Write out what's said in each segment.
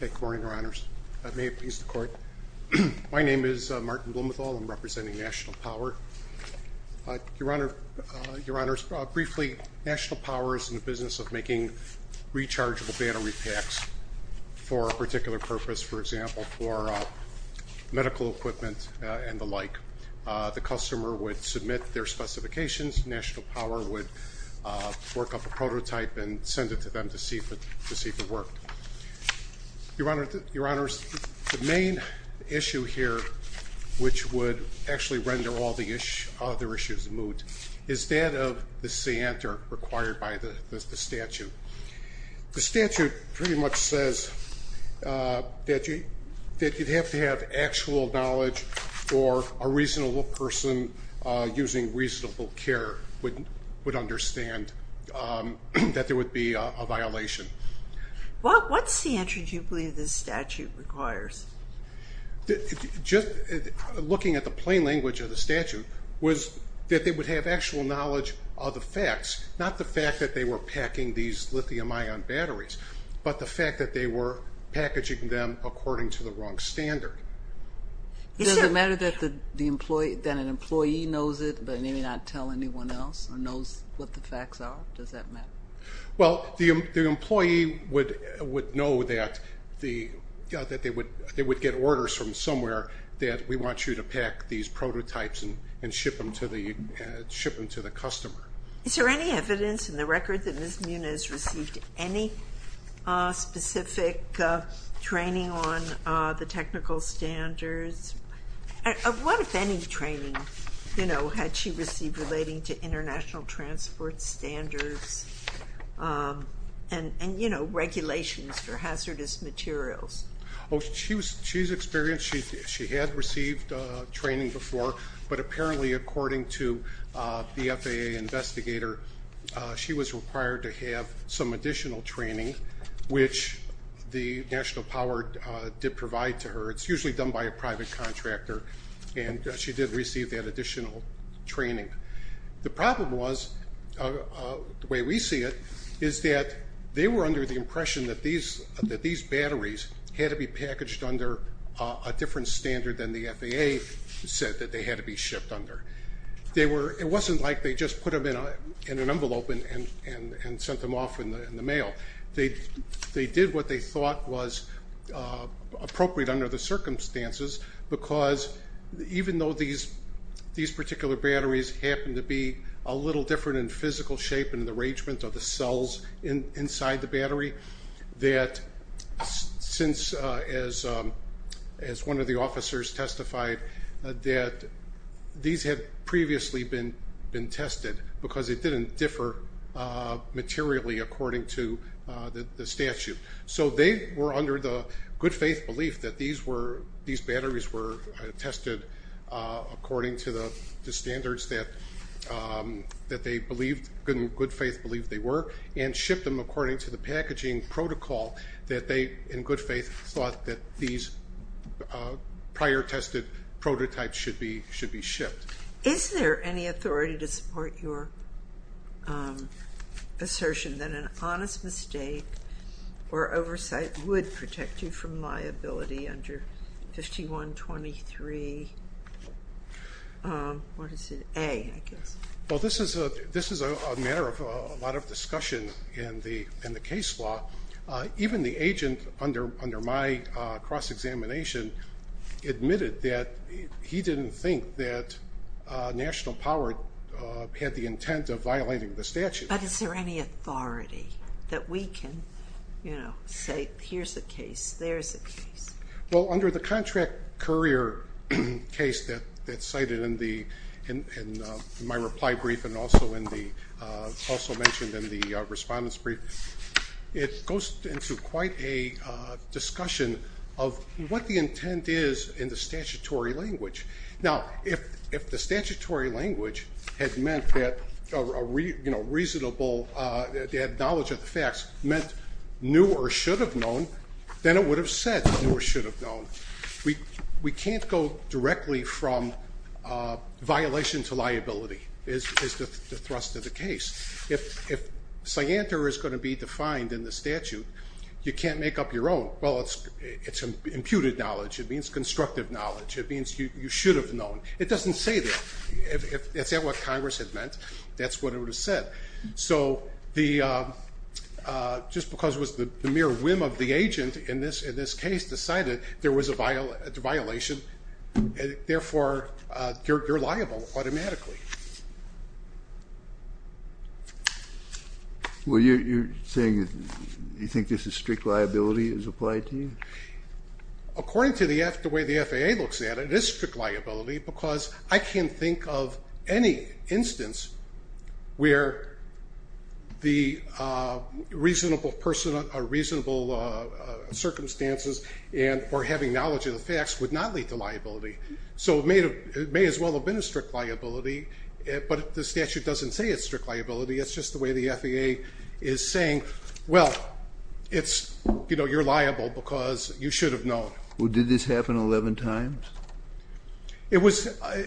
Good morning, your honors. May it please the court. My name is Martin Blumenthal. I'm representing National Power. Your honors, briefly, National Power is in the business of making rechargeable battery packs for a particular purpose. For example, for medical equipment and the like. The customer would submit their specifications. National Power would work up a prototype and send it to them to see if it worked. Your honors, the main issue here, which would actually render all the other issues moot, is that of the scienter required by the statute. The statute pretty much says that you'd have to have actual knowledge or a reasonable person using reasonable care would understand that there would be a violation. What's the answer, do you believe, this statute requires? Just looking at the plain language of the statute, was that they would have actual knowledge of the facts. Not the fact that they were packing these lithium ion batteries, but the fact that they were packaging them according to the wrong standard. Does it matter that an employee knows it but may not tell anyone else or knows what the facts are? Does that matter? The employee would know that they would get orders from somewhere that we want you to pack these prototypes and ship them to the customer. Is there any evidence in the record that Ms. Muniz received any specific training on the technical standards? What if any training had she received relating to international transport standards and regulations for hazardous materials? She's experienced, she had received training before, but apparently according to the FAA investigator, she was required to have some additional training, which the national power did provide to her. It's usually done by a private contractor and she did receive that additional training. The problem was, the way we see it, is that they were under the impression that these batteries had to be packaged under a different standard than the FAA said that they had to be shipped under. It wasn't like they just put them in an envelope and sent them off in the mail. They did what they thought was appropriate under the circumstances because even though these particular batteries happen to be a little different in physical shape and the arrangement of the cells inside the battery, as one of the officers testified, these had previously been tested because it didn't differ materially according to the statute. They were under the good faith belief that these batteries were tested according to the standards that Good Faith believed they were and shipped them according to the packaging protocol that they, in good faith, thought that these prior tested prototypes should be shipped. Is there any authority to support your assertion that an honest mistake or oversight would protect you from liability under 5123A? This is a matter of a lot of discussion in the case law. Even the agent under my cross-examination admitted that he didn't think that National Power had the intent of violating the statute. But is there any authority that we can say, here's a case, there's a case? Well, under the contract courier case that's cited in my reply brief and also mentioned in the respondent's brief, it goes into quite a discussion of what the intent is in the statutory language. Now, if the statutory language had meant that a reasonable knowledge of the facts meant knew or should have known, then it would have said knew or should have known. We can't go directly from violation to liability is the thrust of the case. If scienter is going to be defined in the statute, you can't make up your own. Well, it's imputed knowledge. It means constructive knowledge. It means you should have known. It doesn't say that. If that's what Congress had meant, that's what it would have said. So just because it was the mere whim of the agent in this case decided there was a violation, therefore, you're liable automatically. Well, you're saying you think this is strict liability as applied to you? According to the way the FAA looks at it, it is strict liability because I can't think of any instance where the reasonable circumstances for having knowledge of the facts would not lead to liability. So it may as well have been a strict liability, but the statute doesn't say it's strict liability. It's just the way the FAA is saying, well, you're liable because you should have known. Well, did this happen 11 times? If I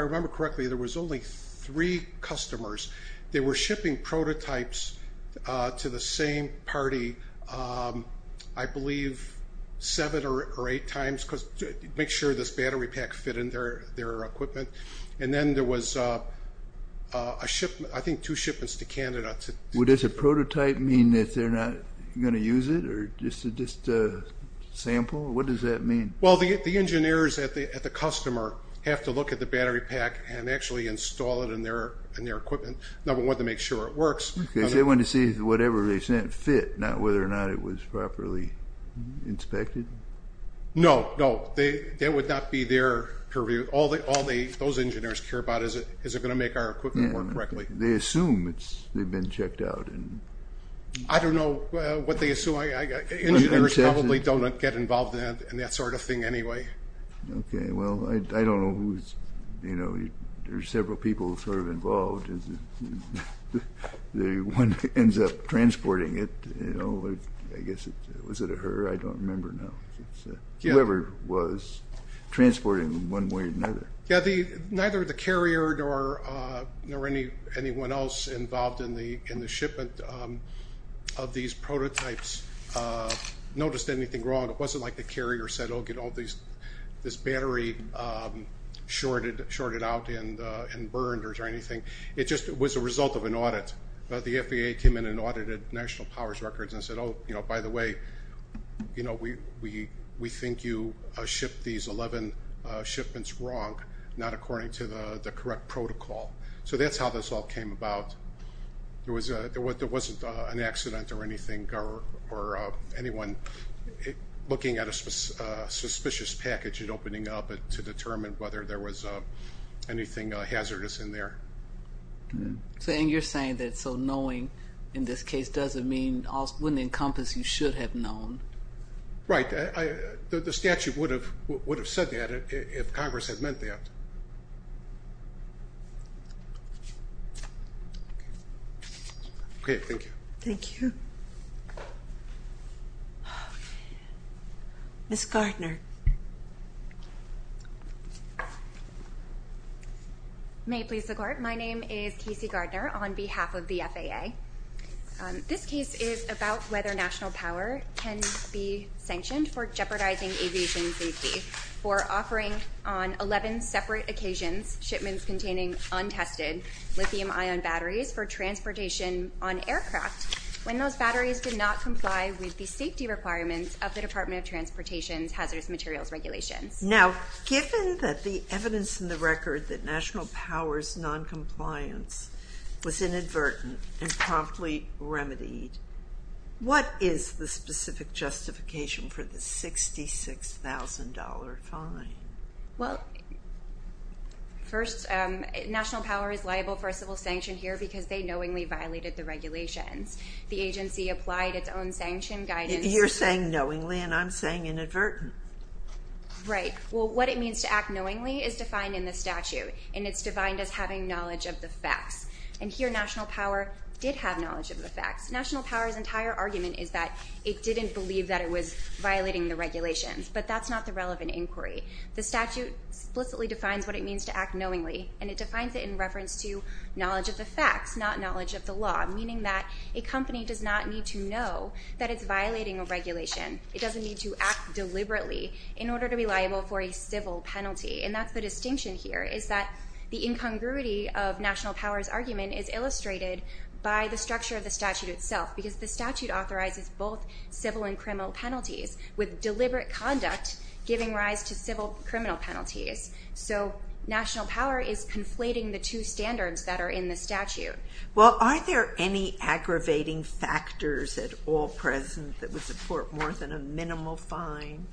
remember correctly, there was only three customers. They were shipping prototypes to the same party, I believe, seven or eight times to make sure this battery pack fit in their equipment. And then there was, I think, two shipments to Canada. Well, does a prototype mean that they're not going to use it, or just a sample? What does that mean? Well, the engineers at the customer have to look at the battery pack and actually install it in their equipment, number one, to make sure it works. Because they want to see whatever they sent fit, not whether or not it was properly inspected? No, no. That would not be their purview. All those engineers care about is, is it going to make our equipment work correctly? They assume they've been checked out. I don't know what they assume. Engineers probably don't get involved in that sort of thing anyway. Okay, well, I don't know who's, you know, there's several people sort of involved. The one that ends up transporting it, you know, I guess, was it a her? I don't remember now. Whoever was transporting one way or another. Yeah, neither the carrier nor anyone else involved in the shipment of these prototypes noticed anything wrong. It wasn't like the carrier said, oh, get all these, this battery shorted out and burned or anything. It just was a result of an audit. The FAA came in and audited National Power's records and said, oh, you know, by the way, you know, we think you shipped these 11 shipments wrong, not according to the correct protocol. So that's how this all came about. There wasn't an accident or anything or anyone looking at a suspicious package and opening up to determine whether there was anything hazardous in there. So you're saying that so knowing in this case doesn't mean, wouldn't encompass you should have known. Right. The statute would have said that if Congress had meant that. OK, thank you. Thank you. Miss Gardner. May it please the court. My name is Casey Gardner on behalf of the FAA. This case is about whether National Power can be sanctioned for jeopardizing aviation safety for offering on 11 separate occasions, shipments containing untested lithium ion batteries for transportation on aircraft when those batteries did not comply with the safety requirements of the Department of Transportation's hazardous materials regulations. Now, given that the evidence in the record that National Power's noncompliance was inadvertent and promptly remedied, what is the specific justification for the $66,000 fine? Well, first, National Power is liable for a civil sanction here because they knowingly violated the regulations. The agency applied its own sanction guidance. You're saying knowingly and I'm saying inadvertently. Right. Well, what it means to act knowingly is defined in the statute, and it's defined as having knowledge of the facts. And here National Power did have knowledge of the facts. National Power's entire argument is that it didn't believe that it was violating the regulations, but that's not the relevant inquiry. The statute explicitly defines what it means to act knowingly, and it defines it in reference to knowledge of the facts, not knowledge of the law, meaning that a company does not need to know that it's violating a regulation. It doesn't need to act deliberately in order to be liable for a civil penalty. And that's the distinction here is that the incongruity of National Power's argument is illustrated by the structure of the statute itself, because the statute authorizes both civil and criminal penalties, with deliberate conduct giving rise to civil criminal penalties. So National Power is conflating the two standards that are in the statute. Well, are there any aggravating factors at all present that would support more than a minimal fine?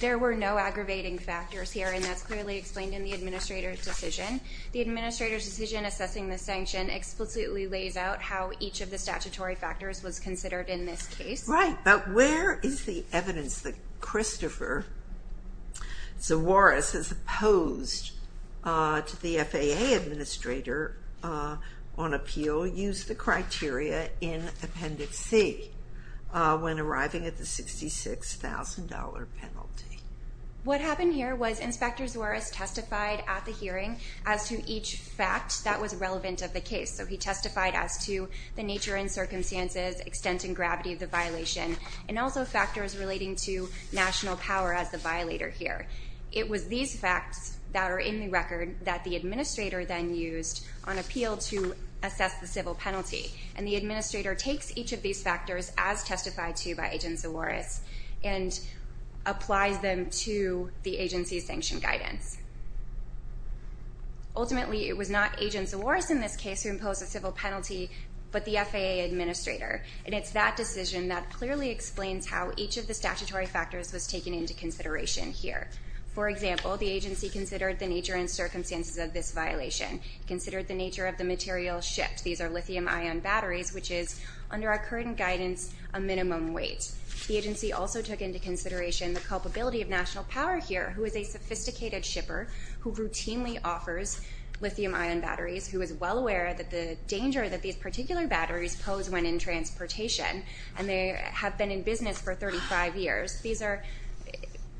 There were no aggravating factors here, and that's clearly explained in the administrator's decision. The administrator's decision assessing the sanction explicitly lays out how each of the statutory factors was considered in this case. Right, but where is the evidence that Christopher Zawaris, as opposed to the FAA administrator on appeal, used the criteria in Appendix C when arriving at the $66,000 penalty? What happened here was Inspector Zawaris testified at the hearing as to each fact that was relevant of the case. So he testified as to the nature and circumstances, extent and gravity of the violation, and also factors relating to National Power as the violator here. It was these facts that are in the record that the administrator then used on appeal to assess the civil penalty. And the administrator takes each of these factors as testified to by Agent Zawaris and applies them to the agency's sanction guidance. Ultimately, it was not Agent Zawaris in this case who imposed the civil penalty, but the FAA administrator. And it's that decision that clearly explains how each of the statutory factors was taken into consideration here. For example, the agency considered the nature and circumstances of this violation, considered the nature of the material shipped. These are lithium-ion batteries, which is, under our current guidance, a minimum weight. The agency also took into consideration the culpability of National Power here, who is a sophisticated shipper who routinely offers lithium-ion batteries, who is well aware that the danger that these particular batteries pose when in transportation, and they have been in business for 35 years. These are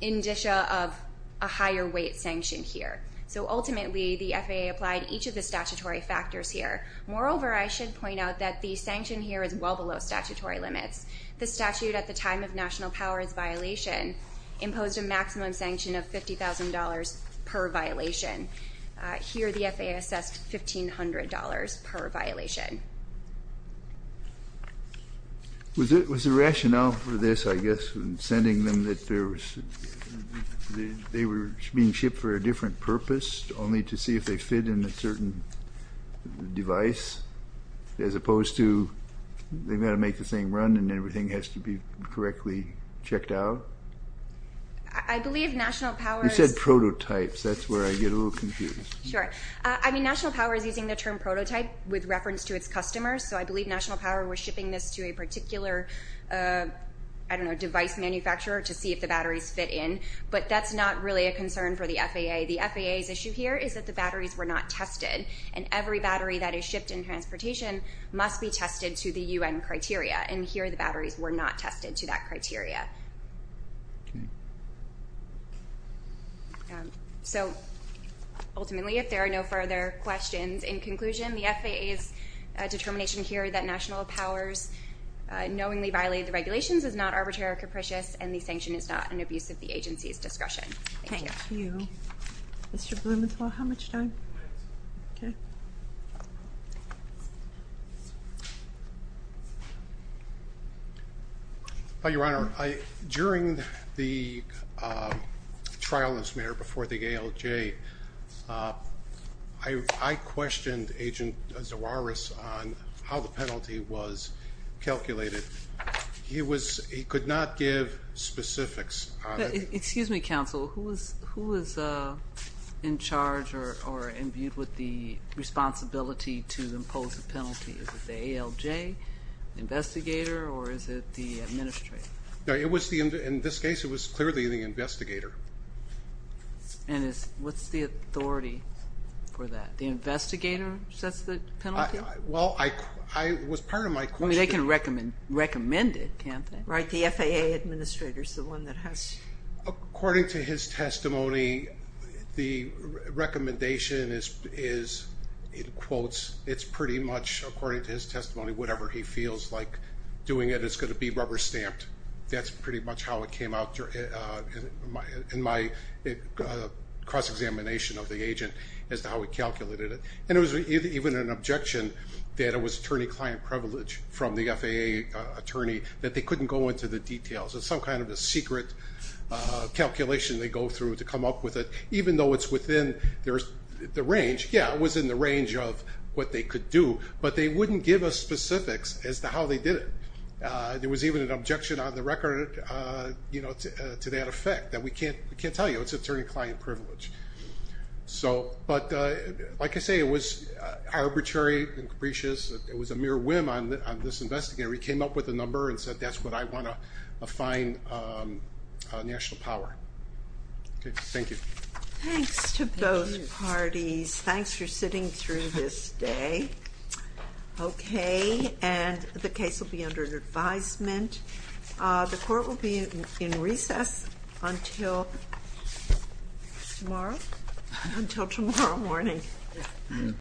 indicia of a higher weight sanction here. So ultimately, the FAA applied each of the statutory factors here. Moreover, I should point out that the sanction here is well below statutory limits. The statute at the time of National Power's violation imposed a maximum sanction of $50,000 per violation. Here the FAA assessed $1,500 per violation. Was the rationale for this, I guess, in sending them that they were being shipped for a different purpose, only to see if they fit in a certain device, as opposed to they've got to make the thing run and everything has to be correctly checked out? I believe National Power's... You said prototypes. That's where I get a little confused. Sure. I mean, National Power is using the term prototype with reference to its customers, so I believe National Power was shipping this to a particular, I don't know, device manufacturer to see if the batteries fit in, but that's not really a concern for the FAA. The FAA's issue here is that the batteries were not tested, and every battery that is shipped in transportation must be tested to the UN criteria, and here the batteries were not tested to that criteria. Okay. So ultimately, if there are no further questions, in conclusion, the FAA's determination here that National Power's knowingly violated the regulations is not arbitrary or capricious, and the sanction is not an abuse of the agency's discretion. Thank you. Thank you. Mr. Blumenthal, how much time? Okay. Thank you. Your Honor, during the trial as mayor before the ALJ, I questioned Agent Zawaris on how the penalty was calculated. Excuse me, counsel. Who is in charge or imbued with the responsibility to impose the penalty? Is it the ALJ investigator or is it the administrator? In this case, it was clearly the investigator. And what's the authority for that? The investigator sets the penalty? Well, it was part of my question. They can recommend it, can't they? Right, the FAA administrator is the one that has to. According to his testimony, the recommendation is, in quotes, it's pretty much, according to his testimony, whatever he feels like doing it is going to be rubber stamped. That's pretty much how it came out in my cross-examination of the agent as to how he calculated it. And it was even an objection that it was attorney-client privilege from the FAA attorney that they couldn't go into the details. It's some kind of a secret calculation they go through to come up with it, even though it's within the range. Yeah, it was in the range of what they could do, but they wouldn't give us specifics as to how they did it. There was even an objection on the record to that effect that we can't tell you. It's attorney-client privilege. But like I say, it was arbitrary and capricious. It was a mere whim on this investigator. He came up with a number and said, that's what I want to find national power. Thank you. Thanks to both parties. Thanks for sitting through this day. Okay, and the case will be under advisement. The court will be in recess until tomorrow? Until tomorrow morning.